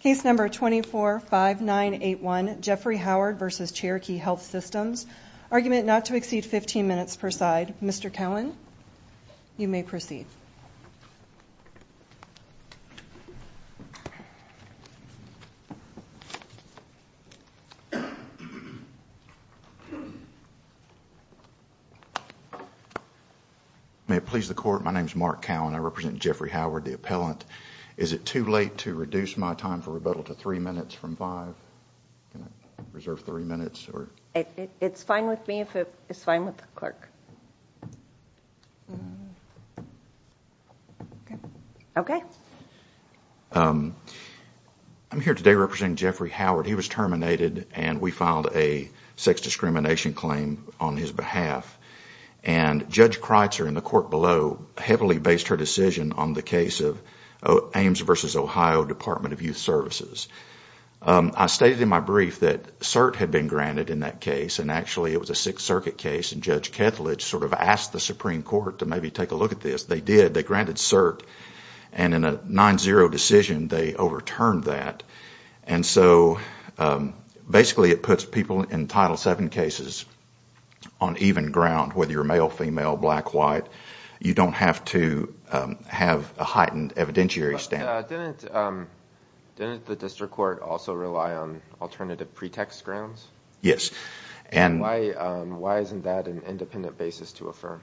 Case number 245981, Jeffrey Howard v. Cherokee Health Systems. Argument not to exceed 15 minutes per side. Mr. Cowan, you may proceed. May it please the Court, my name is Mark Cowan. I represent Jeffrey Howard, the appellant. Is it too late to reduce my time for rebuttal to three minutes from five? Can I reserve three minutes? It's fine with me if it's fine with the clerk. I'm here today representing Jeffrey Howard. He was terminated and we filed a sex discrimination claim on his behalf. And Judge Kreitzer in the court below heavily based her decision on the case of Ames v. Ohio Department of Youth Services. I stated in my brief that CERT had been granted in that case, and actually it was a Sixth Circuit case, and Judge Kethledge sort of asked the Supreme Court to maybe take a look at this. They did. They granted CERT, and in a 9-0 decision, they overturned that. And so basically it puts people in Title VII cases on even ground, whether you're male, female, black, white. You don't have to have a heightened evidentiary stand. Didn't the district court also rely on alternative pretext grounds? Yes. And why isn't that an independent basis to affirm?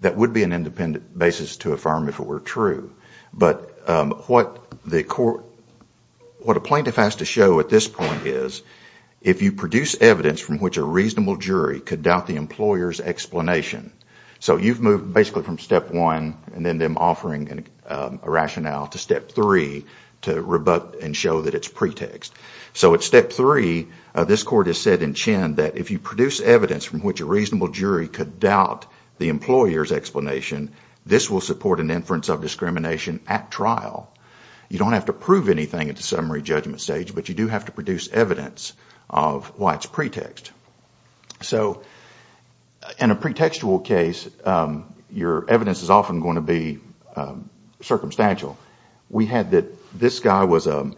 That would be an independent basis to affirm if it were true. But what the court, what a plaintiff has to show at this point is, if you produce evidence from which a reasonable jury could doubt the employer's explanation, so you've moved basically from Step 1 and then them offering a rationale to Step 3 to rebut and show that it's pretext. So at Step 3, this court has said in Chen that if you produce evidence from which a reasonable jury could doubt the employer's explanation, this will support an inference of discrimination at trial. You don't have to prove anything at the summary judgment stage, but you do have to produce evidence of why it's pretext. So in a pretextual case, your evidence is often going to be circumstantial. We had that this guy was an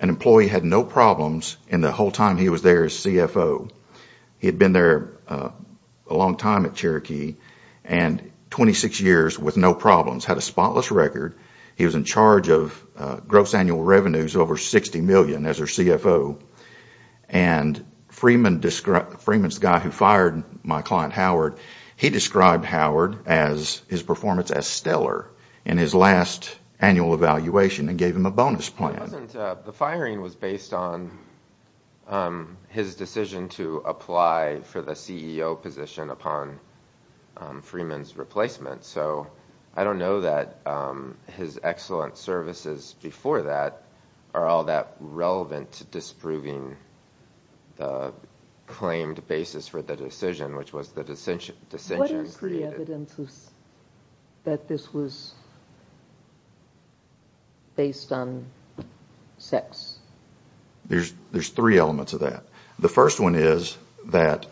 employee, had no problems, and the whole time he was there as CFO. He had been there a long time at Cherokee and 26 years with no problems, had a spotless record. He was in charge of gross annual revenues over $60 million as their CFO. And Freeman's guy who fired my client Howard, he described Howard as his performance as stellar in his last annual evaluation and gave him a bonus plan. The firing was based on his decision to apply for the CEO position upon Freeman's replacement. So I don't know that his excellent services before that are all that relevant to disproving the claimed basis for the decision, which was the decision created. So what is the evidence that this was based on sex? There's three elements of that. The first one is that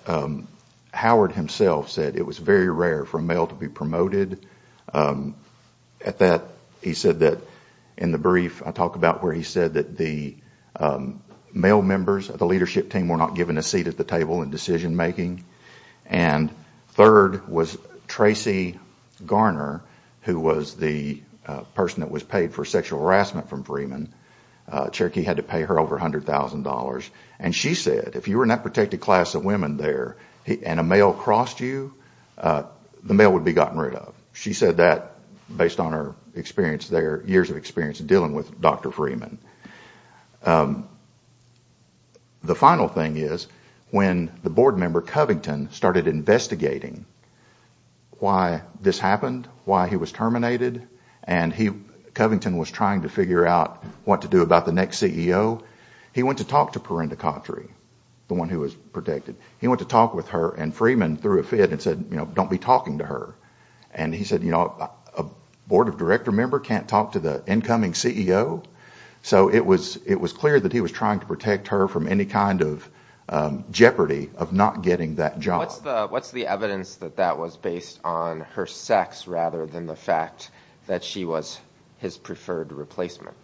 Howard himself said it was very rare for a male to be promoted. He said that in the brief I talk about where he said that the male members of the leadership team were not given a seat at the table in decision making. And third was Tracy Garner, who was the person that was paid for sexual harassment from Freeman. Cherokee had to pay her over $100,000. And she said if you were in that protected class of women there and a male crossed you, the male would be gotten rid of. She said that based on her years of experience dealing with Dr. Freeman. The final thing is when the board member Covington started investigating why this happened, why he was terminated, and Covington was trying to figure out what to do about the next CEO, he went to talk to Perinda Cotre, the one who was protected. He went to talk with her and Freeman threw a fit and said don't be talking to her. And he said a board of director member can't talk to the incoming CEO? So it was clear that he was trying to protect her from any kind of jeopardy of not getting that job. What's the evidence that that was based on her sex rather than the fact that she was his preferred replacement?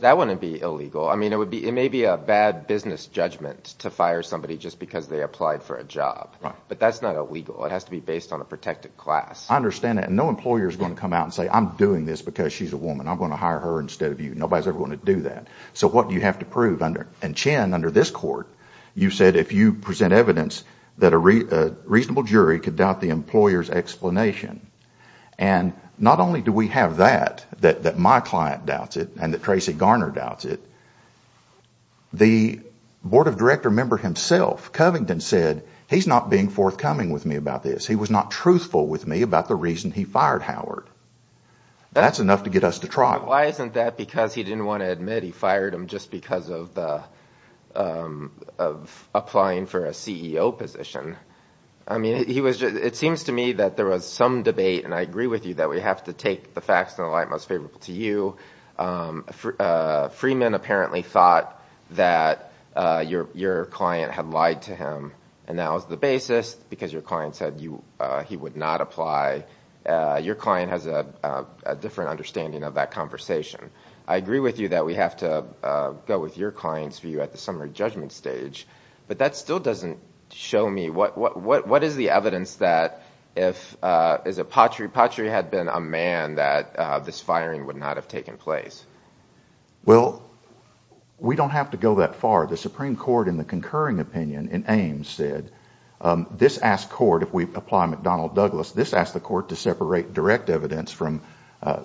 That wouldn't be illegal. I mean it may be a bad business judgment to fire somebody just because they applied for a job. But that's not illegal. It has to be based on a protected class. I understand that. And no employer is going to come out and say I'm doing this because she's a woman. I'm going to hire her instead of you. Nobody is ever going to do that. So what do you have to prove? And Chen, under this court, you said if you present evidence that a reasonable jury could doubt the employer's explanation. And not only do we have that, that my client doubts it and that Tracy Garner doubts it, the board of director member himself, Covington, said he's not being forthcoming with me about this. He was not truthful with me about the reason he fired Howard. That's enough to get us to trial. Why isn't that because he didn't want to admit he fired him just because of applying for a CEO position? I mean it seems to me that there was some debate, and I agree with you that we have to take the facts in the light most favorable to you. Freeman apparently thought that your client had lied to him. And that was the basis because your client said he would not apply. Your client has a different understanding of that conversation. I agree with you that we have to go with your client's view at the summary judgment stage. But that still doesn't show me what is the evidence that if Patry had been a man that this firing would not have taken place? Well, we don't have to go that far. The Supreme Court in the concurring opinion in Ames said this asked court, if we apply McDonnell-Douglas, this asked the court to separate direct evidence from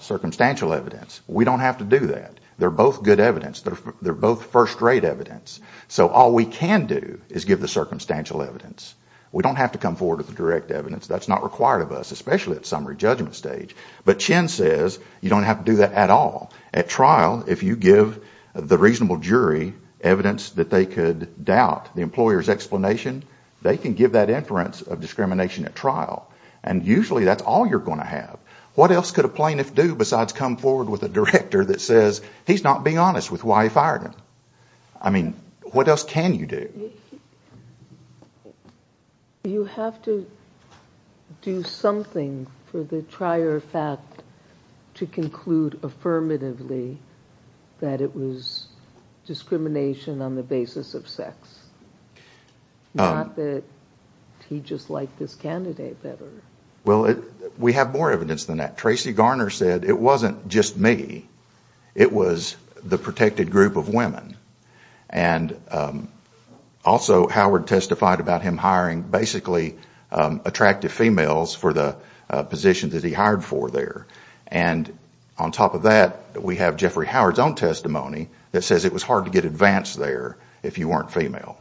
circumstantial evidence. We don't have to do that. They're both good evidence. They're both first-rate evidence. So all we can do is give the circumstantial evidence. We don't have to come forward with the direct evidence. That's not required of us, especially at summary judgment stage. But Chin says you don't have to do that at all. At trial, if you give the reasonable jury evidence that they could doubt the employer's explanation, they can give that inference of discrimination at trial. And usually that's all you're going to have. What else could a plaintiff do besides come forward with a director that says he's not being honest with why he fired him? I mean, what else can you do? You have to do something for the trier fact to conclude affirmatively that it was discrimination on the basis of sex, not that he just liked this candidate better. Well, we have more evidence than that. Tracy Garner said it wasn't just me. It was the protected group of women. And also Howard testified about him hiring basically attractive females for the positions that he hired for there. And on top of that, we have Jeffrey Howard's own testimony that says it was hard to get advanced there if you weren't female.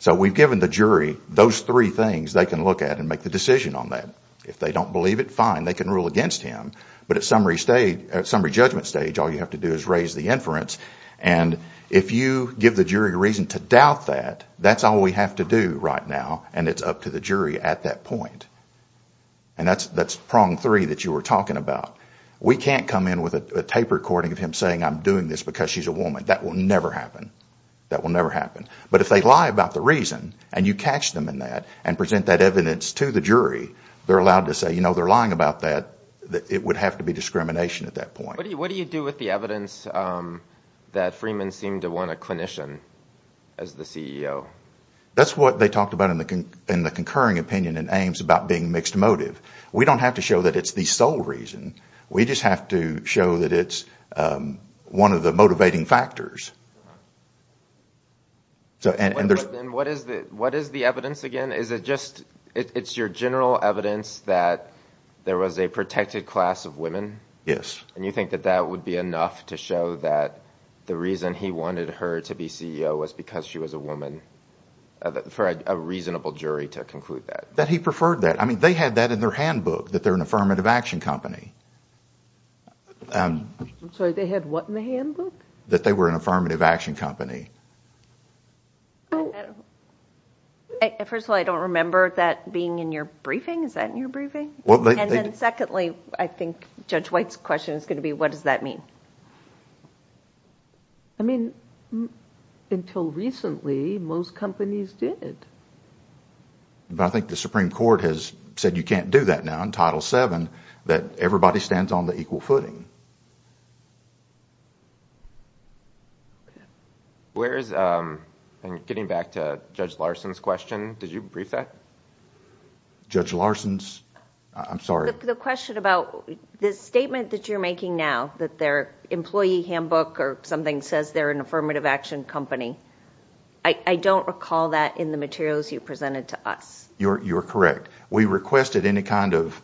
So we've given the jury those three things they can look at and make the decision on that. If they don't believe it, fine, they can rule against him. But at summary judgment stage, all you have to do is raise the inference. And if you give the jury a reason to doubt that, that's all we have to do right now, and it's up to the jury at that point. And that's prong three that you were talking about. We can't come in with a tape recording of him saying I'm doing this because she's a woman. That will never happen. That will never happen. But if they lie about the reason and you catch them in that and present that evidence to the jury, they're allowed to say, you know, they're lying about that, it would have to be discrimination at that point. What do you do with the evidence that Freeman seemed to want a clinician as the CEO? That's what they talked about in the concurring opinion in Ames about being mixed motive. We don't have to show that it's the sole reason. We just have to show that it's one of the motivating factors. And what is the evidence again? Is it just it's your general evidence that there was a protected class of women? Yes. And you think that that would be enough to show that the reason he wanted her to be CEO was because she was a woman, for a reasonable jury to conclude that? That he preferred that. I mean, they had that in their handbook, that they're an affirmative action company. I'm sorry, they had what in the handbook? That they were an affirmative action company. First of all, I don't remember that being in your briefing. Is that in your briefing? And then secondly, I think Judge White's question is going to be, what does that mean? I mean, until recently, most companies did. I think the Supreme Court has said you can't do that now in Title VII, that everybody stands on the equal footing. Getting back to Judge Larson's question, did you brief that? Judge Larson's? I'm sorry. The question about the statement that you're making now that their employee handbook or something says they're an affirmative action company, I don't recall that in the materials you presented to us. You're correct. We requested any kind of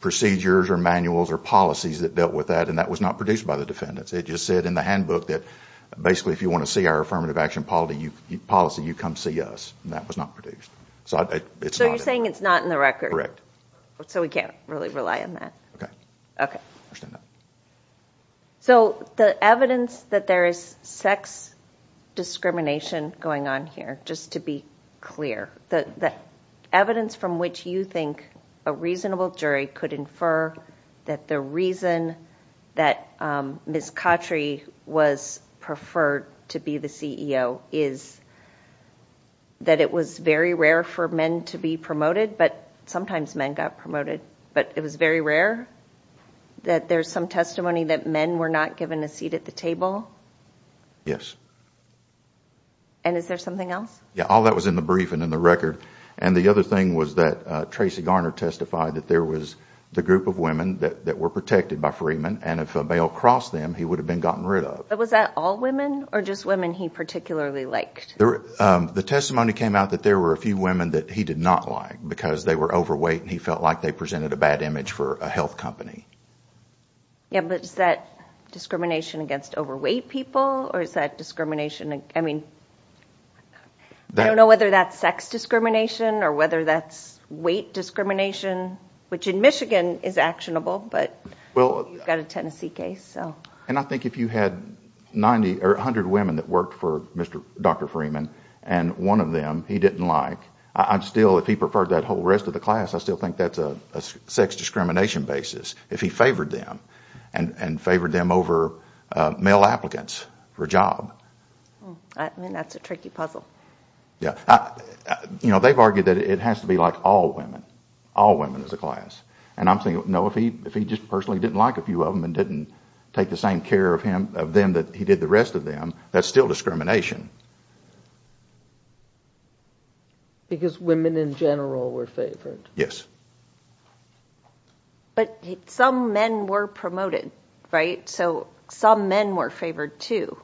procedures or manuals or policies that dealt with that, and that was not produced by the defendants. It just said in the handbook that basically if you want to see our affirmative action policy, you come see us. That was not produced. So you're saying it's not in the record? Correct. So we can't really rely on that? Okay. Okay. I understand that. So the evidence that there is sex discrimination going on here, just to be clear, the evidence from which you think a reasonable jury could infer that the reason that Ms. Cautry was preferred to be the CEO is that it was very rare for men to be promoted, but sometimes men got promoted, but it was very rare that there's some testimony that men were not given a seat at the table? Yes. And is there something else? Yeah, all that was in the brief and in the record, and the other thing was that Tracy Garner testified that there was the group of women that were protected by Freeman, and if a bail crossed them, he would have been gotten rid of. But was that all women or just women he particularly liked? The testimony came out that there were a few women that he did not like because they were overweight and he felt like they presented a bad image for a health company. Yeah, but is that discrimination against overweight people or is that discrimination, I mean, I don't know whether that's sex discrimination or whether that's weight discrimination, which in Michigan is actionable, but you've got a Tennessee case, so. And I think if you had 90 or 100 women that worked for Dr. Freeman and one of them he didn't like, I'm still, if he preferred that whole rest of the class, I still think that's a sex discrimination basis if he favored them and favored them over male applicants for a job. I mean, that's a tricky puzzle. Yeah. You know, they've argued that it has to be like all women, all women as a class, and I'm thinking, no, if he just personally didn't like a few of them and didn't take the same care of them that he did the rest of them, that's still discrimination. Because women in general were favored. Yes. But some men were promoted, right? So some men were favored, too.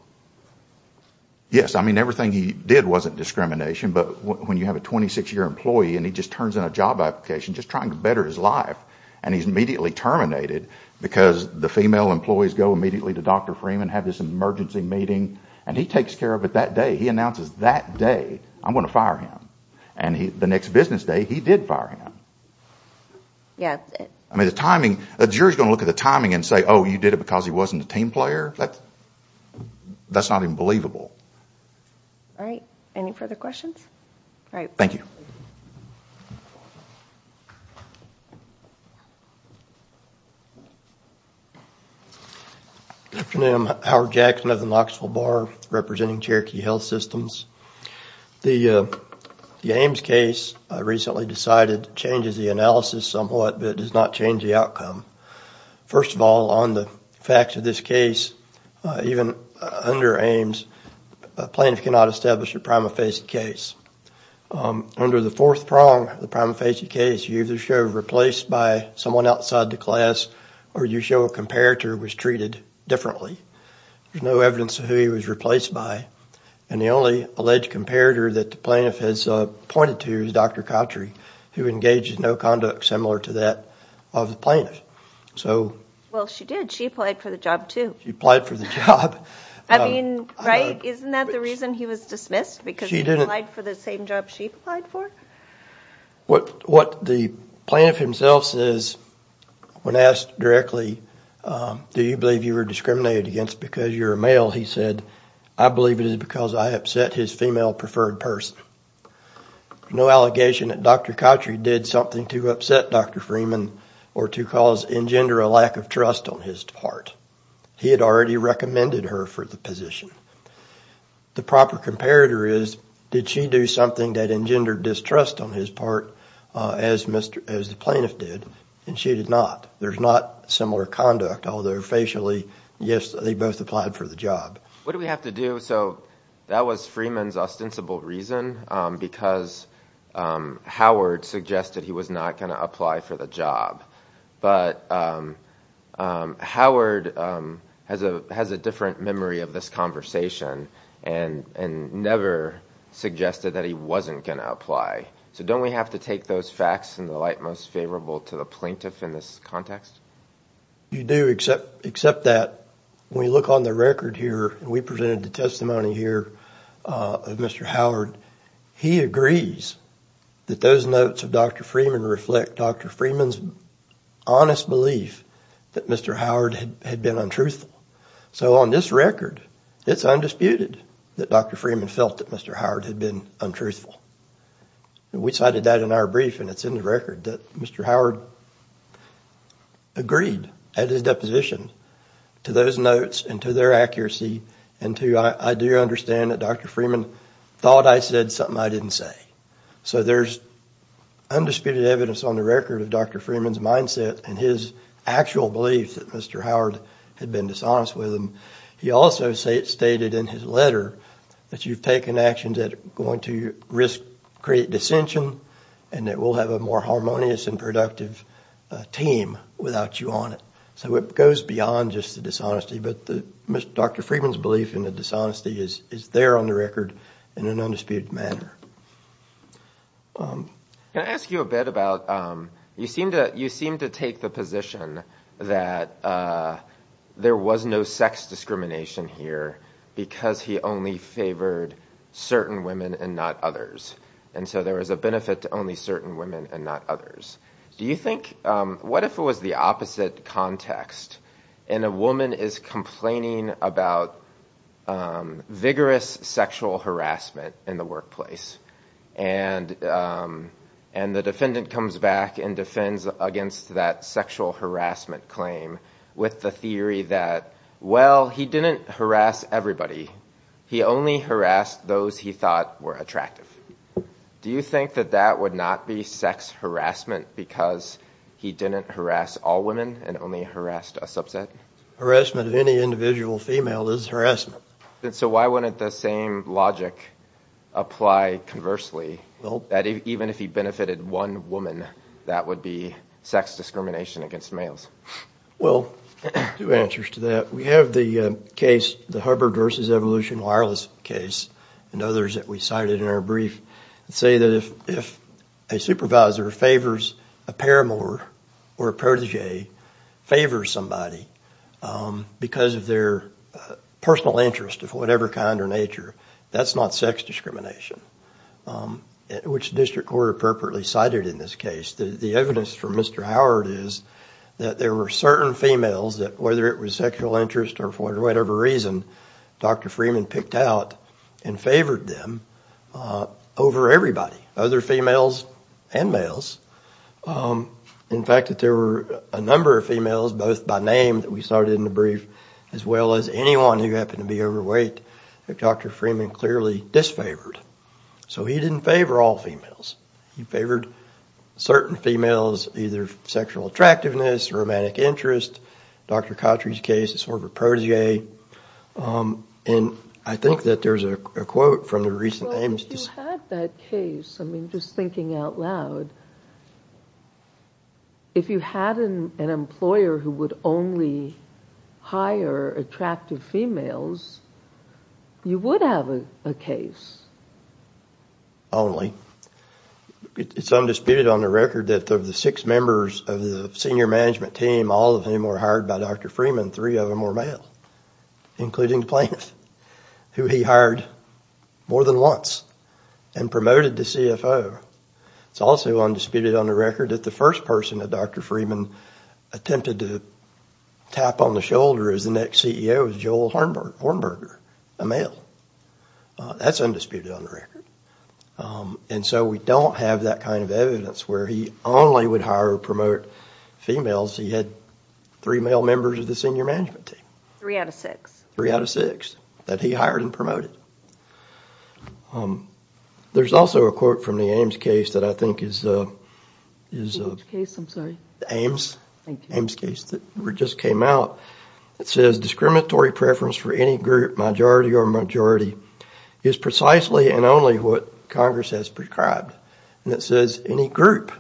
Yes, I mean, everything he did wasn't discrimination, but when you have a 26-year employee and he just turns in a job application just trying to better his life, and he's immediately terminated because the female employees go immediately to Dr. Freeman, have this emergency meeting, and he takes care of it that day. He announces that day, I'm going to fire him. And the next business day, he did fire him. Yes. I mean, the timing, a jury's going to look at the timing and say, oh, you did it because he wasn't a team player? That's not even believable. All right. Any further questions? All right. Thank you. Good afternoon. I'm Howard Jackson of the Knoxville Bar representing Cherokee Health Systems. The Ames case recently decided changes the analysis somewhat, but it does not change the outcome. First of all, on the facts of this case, even under Ames, a plaintiff cannot establish a prima facie case. Under the fourth prong of the prima facie case, you either show replaced by someone outside the class or you show a comparator was treated differently. There's no evidence of who he was replaced by, and the only alleged comparator that the plaintiff has pointed to is Dr. Cotry, who engaged in no conduct similar to that of the plaintiff. Well, she did. She applied for the job, too. She applied for the job. I mean, right? Isn't that the reason he was dismissed, because he applied for the same job she applied for? What the plaintiff himself says when asked directly, do you believe you were discriminated against because you're a male, he said, I believe it is because I upset his female preferred person. No allegation that Dr. Cotry did something to upset Dr. Freeman or to cause engender a lack of trust on his part. He had already recommended her for the position. The proper comparator is, did she do something that engendered distrust on his part, as the plaintiff did, and she did not. There's not similar conduct, although facially, yes, they both applied for the job. What do we have to do? So that was Freeman's ostensible reason, because Howard suggested he was not going to apply for the job. But Howard has a different memory of this conversation and never suggested that he wasn't going to apply. So don't we have to take those facts in the light most favorable to the plaintiff in this context? You do, except that when you look on the record here, and we presented the testimony here of Mr. Howard, he agrees that those notes of Dr. Freeman reflect Dr. Freeman's honest belief that Mr. Howard had been untruthful. So on this record, it's undisputed that Dr. Freeman felt that Mr. Howard had been untruthful. We cited that in our brief, and it's in the record, that Mr. Howard agreed at his deposition to those notes and to their accuracy and to, I do understand that Dr. Freeman thought I said something I didn't say. So there's undisputed evidence on the record of Dr. Freeman's mindset and his actual belief that Mr. Howard had been dishonest with him. He also stated in his letter that you've taken actions that are going to create dissension and that we'll have a more harmonious and productive team without you on it. So it goes beyond just the dishonesty, but Dr. Freeman's belief in the dishonesty is there on the record in an undisputed manner. Can I ask you a bit about, you seem to take the position that there was no sex discrimination here because he only favored certain women and not others. And so there was a benefit to only certain women and not others. Do you think, what if it was the opposite context, and a woman is complaining about vigorous sexual harassment in the workplace, and the defendant comes back and defends against that sexual harassment claim with the theory that, well, he didn't harass everybody. He only harassed those he thought were attractive. Do you think that that would not be sex harassment because he didn't harass all women and only harassed a subset? Harassment of any individual female is harassment. So why wouldn't the same logic apply conversely, that even if he benefited one woman, that would be sex discrimination against males? Well, two answers to that. We have the case, the Hubbard v. Evolution Wireless case, and others that we cited in our brief, say that if a supervisor favors a paramour or a protege favors somebody because of their personal interest of whatever kind or nature, that's not sex discrimination, which the district court appropriately cited in this case. The evidence from Mr. Howard is that there were certain females that, whether it was sexual interest or for whatever reason, Dr. Freeman picked out and favored them over everybody, other females and males. In fact, there were a number of females, both by name that we cited in the brief, as well as anyone who happened to be overweight that Dr. Freeman clearly disfavored. So he didn't favor all females. He favored certain females, either sexual attractiveness, romantic interest. Dr. Cautry's case is sort of a protege. And I think that there's a quote from the recent Ames... If you had that case, I mean, just thinking out loud, if you had an employer who would only hire attractive females, you would have a case. Only. It's undisputed on the record that of the six members of the senior management team, all of whom were hired by Dr. Freeman, three of them were male, including the plaintiff, who he hired more than once and promoted to CFO. It's also undisputed on the record that the first person that Dr. Freeman attempted to tap on the shoulder as the next CEO was Joel Hornberger, a male. That's undisputed on the record. And so we don't have that kind of evidence where he only would hire or promote females. He had three male members of the senior management team. Three out of six. Three out of six that he hired and promoted. There's also a quote from the Ames case that I think is... Which case, I'm sorry? Ames. Thank you. Ames case that just came out. It says, discriminatory preference for any group, majority or majority, is precisely and only what Congress has prescribed. And it says, any group.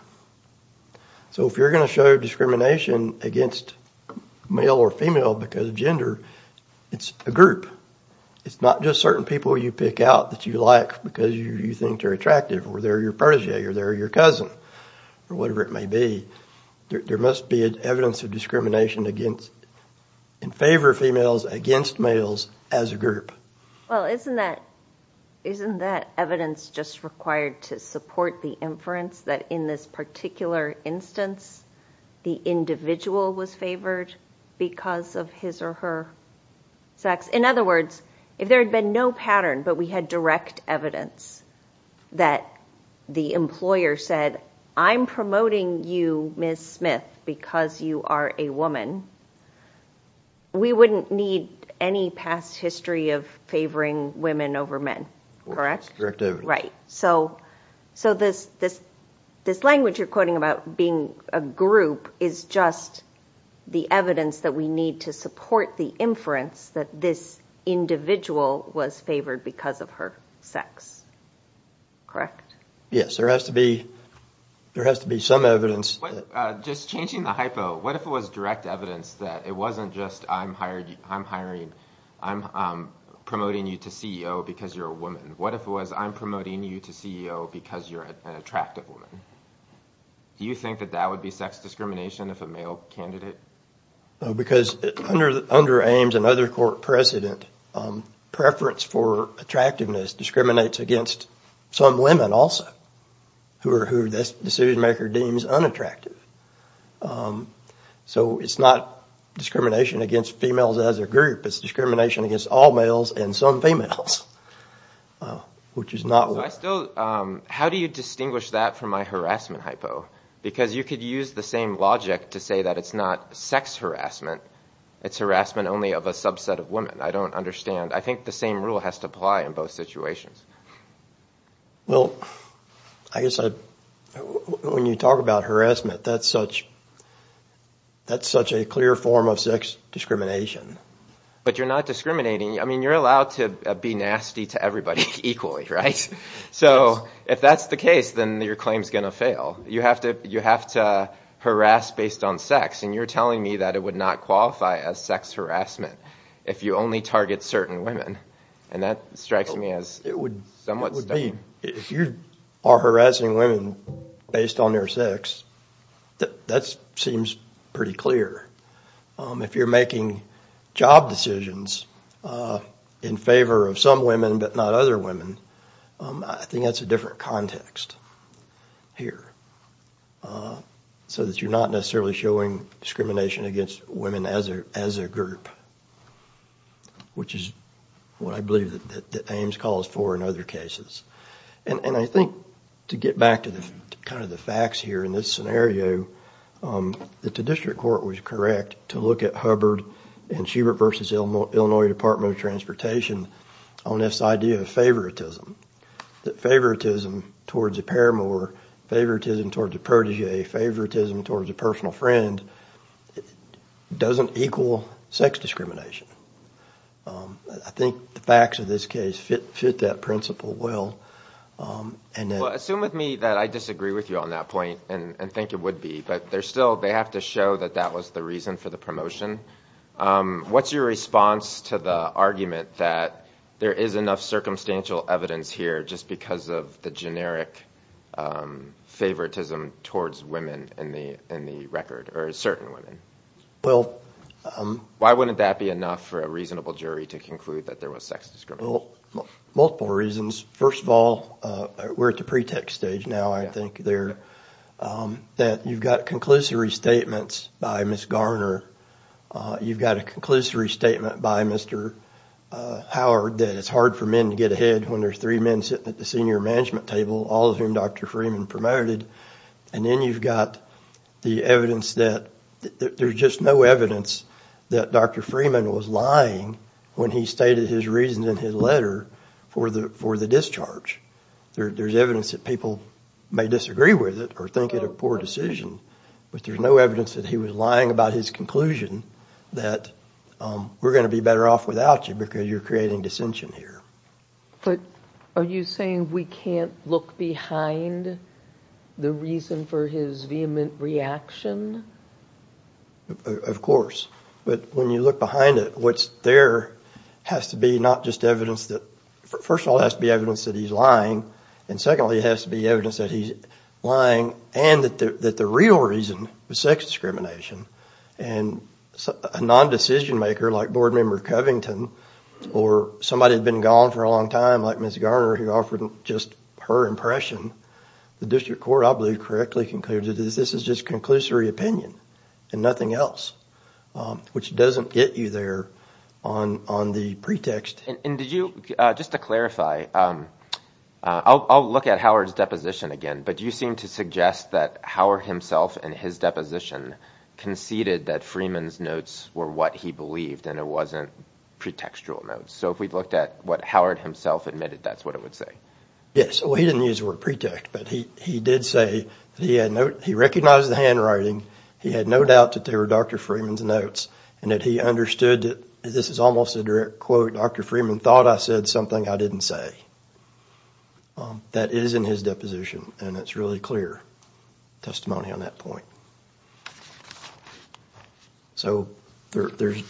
So if you're going to show discrimination against male or female because of gender, it's a group. It's not just certain people you pick out that you like because you think they're attractive or they're your protege or they're your cousin or whatever it may be. There must be evidence of discrimination in favor of females against males as a group. Well, isn't that evidence just required to support the inference that in this particular instance, the individual was favored because of his or her sex? In other words, if there had been no pattern but we had direct evidence that the employer said, I'm promoting you, Ms. Smith, because you are a woman, we wouldn't need any past history of favoring women over men. Right. So this language you're quoting about being a group is just the evidence that we need to support the inference that this individual was favored because of her sex. Correct? Yes. There has to be some evidence. Just changing the hypo, what if it was direct evidence that it wasn't just, I'm promoting you to CEO because you're a woman? What if it was, I'm promoting you to CEO because you're an attractive woman? Do you think that that would be sex discrimination if a male candidate? Because under Ames and other court precedent, preference for attractiveness discriminates against some women also who this decision-maker deems unattractive. So it's not discrimination against females as a group, it's discrimination against all males and some females, which is not why. How do you distinguish that from my harassment hypo? Because you could use the same logic to say that it's not sex harassment, it's harassment only of a subset of women. I don't understand. I think the same rule has to apply in both situations. Well, I guess when you talk about harassment, that's such a clear form of sex discrimination. But you're not discriminating. I mean, you're allowed to be nasty to everybody equally, right? So if that's the case, then your claim is going to fail. You have to harass based on sex, and you're telling me that it would not qualify as sex harassment if you only target certain women. And that strikes me as somewhat stuck. If you are harassing women based on their sex, that seems pretty clear. If you're making job decisions in favor of some women but not other women, I think that's a different context here, so that you're not necessarily showing discrimination against women as a group, which is what I believe that Ames calls for in other cases. And I think to get back to kind of the facts here in this scenario, that the district court was correct to look at Hubbard and Schubert v. Illinois Department of Transportation on this idea of favoritism, that favoritism towards a paramour, favoritism towards a protege, favoritism towards a personal friend doesn't equal sex discrimination. I think the facts of this case fit that principle well. Well, assume with me that I disagree with you on that point and think it would be, but they have to show that that was the reason for the promotion. What's your response to the argument that there is enough circumstantial evidence here just because of the generic favoritism towards women in the record, or certain women? Why wouldn't that be enough for a reasonable jury to conclude that there was sex discrimination? Well, multiple reasons. First of all, we're at the pretext stage now, I think, that you've got conclusory statements by Ms. Garner. You've got a conclusory statement by Mr. Howard that it's hard for men to get ahead when there's three men sitting at the senior management table, all of whom Dr. Freeman promoted. And then you've got the evidence that there's just no evidence that Dr. Freeman was lying when he stated his reason in his letter for the discharge. There's evidence that people may disagree with it or think it a poor decision, but there's no evidence that he was lying about his conclusion that we're going to be better off without you because you're creating dissension here. But are you saying we can't look behind the reason for his vehement reaction? Of course. But when you look behind it, what's there has to be not just evidence that – first of all, it has to be evidence that he's lying, and secondly, it has to be evidence that he's lying and that the real reason was sex discrimination. And a non-decision maker like Board Member Covington or somebody who had been gone for a long time like Ms. Garner who offered just her impression, the district court, I believe, correctly concluded that this is just conclusory opinion and nothing else, which doesn't get you there on the pretext. And did you – just to clarify, I'll look at Howard's deposition again, but you seem to suggest that Howard himself in his deposition conceded that Freeman's notes were what he believed and it wasn't pretextual notes. So if we looked at what Howard himself admitted, that's what it would say. Yes. Well, he didn't use the word pretext, but he did say that he had – he recognized the handwriting. He had no doubt that they were Dr. Freeman's notes and that he understood – this is almost a direct quote, Dr. Freeman thought I said something I didn't say. That is in his deposition and it's really clear testimony on that point. So there's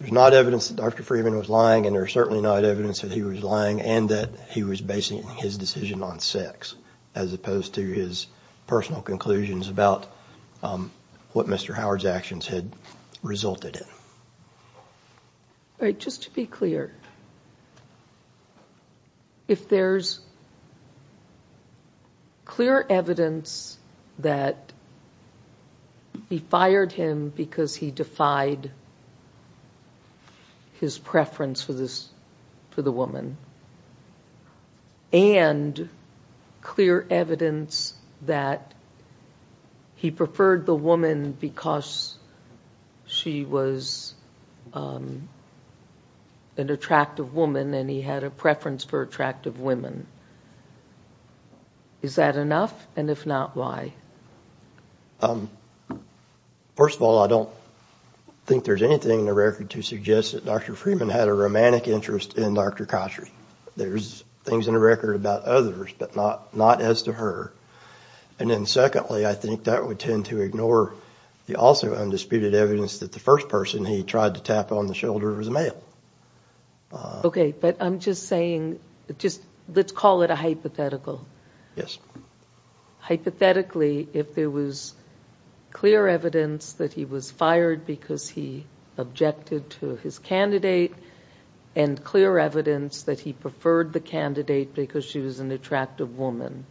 not evidence that Dr. Freeman was lying and there's certainly not evidence that he was lying and that he was basing his decision on sex as opposed to his personal conclusions about what Mr. Howard's actions had resulted in. All right, just to be clear, if there's clear evidence that he fired him because he defied his preference for the woman and clear evidence that he preferred the woman because she was an attractive woman and he had a preference for attractive women, is that enough and if not, why? First of all, I don't think there's anything in the record to suggest that Dr. Freeman had a romantic interest in Dr. Koshary. There's things in the record about others, but not as to her. And then secondly, I think that would tend to ignore the also undisputed evidence that the first person he tried to tap on the shoulder was a male. Okay, but I'm just saying – let's call it a hypothetical. Yes. Hypothetically, if there was clear evidence that he was fired because he objected to his candidate and clear evidence that he preferred the candidate because she was an attractive woman,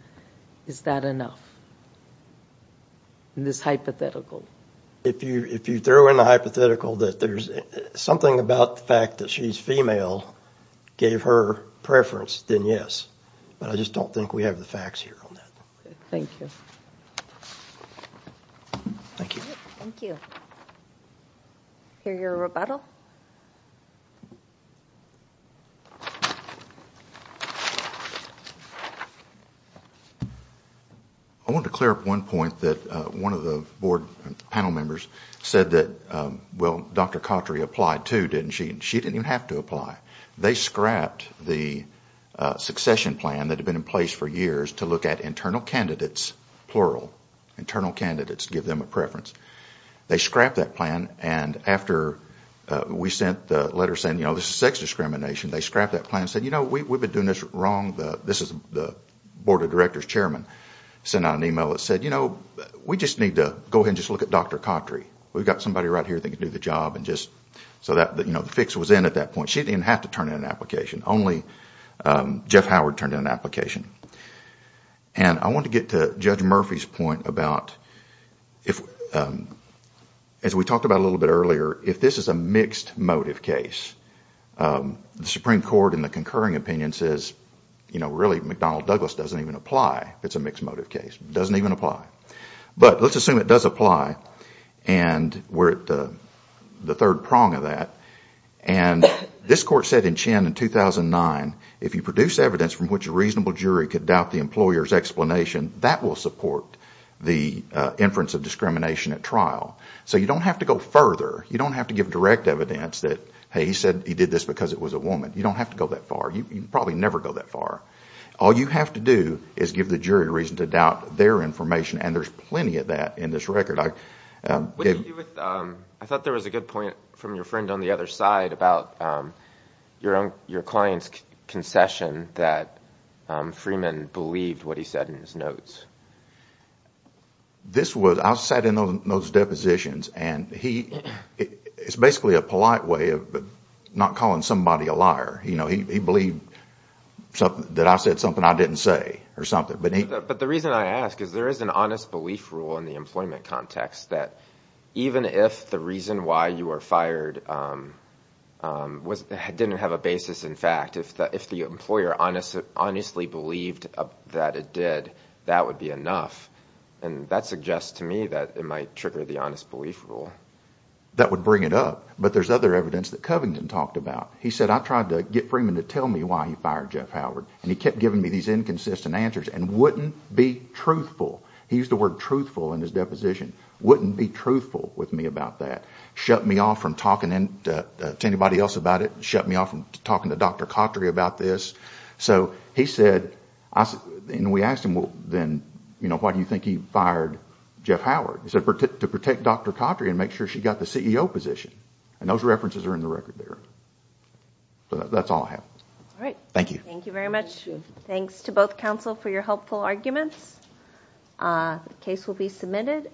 is that enough in this hypothetical? If you throw in a hypothetical that there's something about the fact that she's female gave her preference, then yes. But I just don't think we have the facts here on that. Okay, thank you. Thank you. Thank you. Hear your rebuttal? I wanted to clear up one point that one of the board panel members said that, well, Dr. Koshary applied too, didn't she? She didn't even have to apply. They scrapped the succession plan that had been in place for years to look at internal candidates, plural, internal candidates to give them a preference. They scrapped that plan, and after we sent the letter saying, you know, this is sex discrimination, they scrapped that plan and said, you know, we've been doing this wrong. This is – the board of directors chairman sent out an email that said, you know, we just need to go ahead and just look at Dr. Kotri. We've got somebody right here that can do the job and just – so that, you know, the fix was in at that point. She didn't even have to turn in an application. Only Jeff Howard turned in an application. And I want to get to Judge Murphy's point about if – as we talked about a little bit earlier, if this is a mixed motive case, the Supreme Court in the concurring opinion says, you know, really McDonnell Douglas doesn't even apply if it's a mixed motive case. It doesn't even apply. But let's assume it does apply, and we're at the third prong of that. And this court said in Chin in 2009, if you produce evidence from which a reasonable jury could doubt the employer's explanation, that will support the inference of discrimination at trial. So you don't have to go further. You don't have to give direct evidence that, hey, he said he did this because it was a woman. You don't have to go that far. You can probably never go that far. All you have to do is give the jury a reason to doubt their information, and there's plenty of that in this record. I thought there was a good point from your friend on the other side about your client's concession that Freeman believed what he said in his notes. This was – I sat in on those depositions, and he – it's basically a polite way of not calling somebody a liar. He believed that I said something I didn't say or something. But the reason I ask is there is an honest belief rule in the employment context that even if the reason why you were fired didn't have a basis in fact, if the employer honestly believed that it did, that would be enough. And that suggests to me that it might trigger the honest belief rule. That would bring it up. But there's other evidence that Covington talked about. He said, I tried to get Freeman to tell me why he fired Jeff Howard, and he kept giving me these inconsistent answers and wouldn't be truthful. He used the word truthful in his deposition. Wouldn't be truthful with me about that. Shut me off from talking to anybody else about it. Shut me off from talking to Dr. Cautry about this. So he said – and we asked him, then, why do you think he fired Jeff Howard? He said to protect Dr. Cautry and make sure she got the CEO position. And those references are in the record there. So that's all I have. All right. Thank you. Thank you very much. Thanks to both counsel for your helpful arguments. The case will be submitted.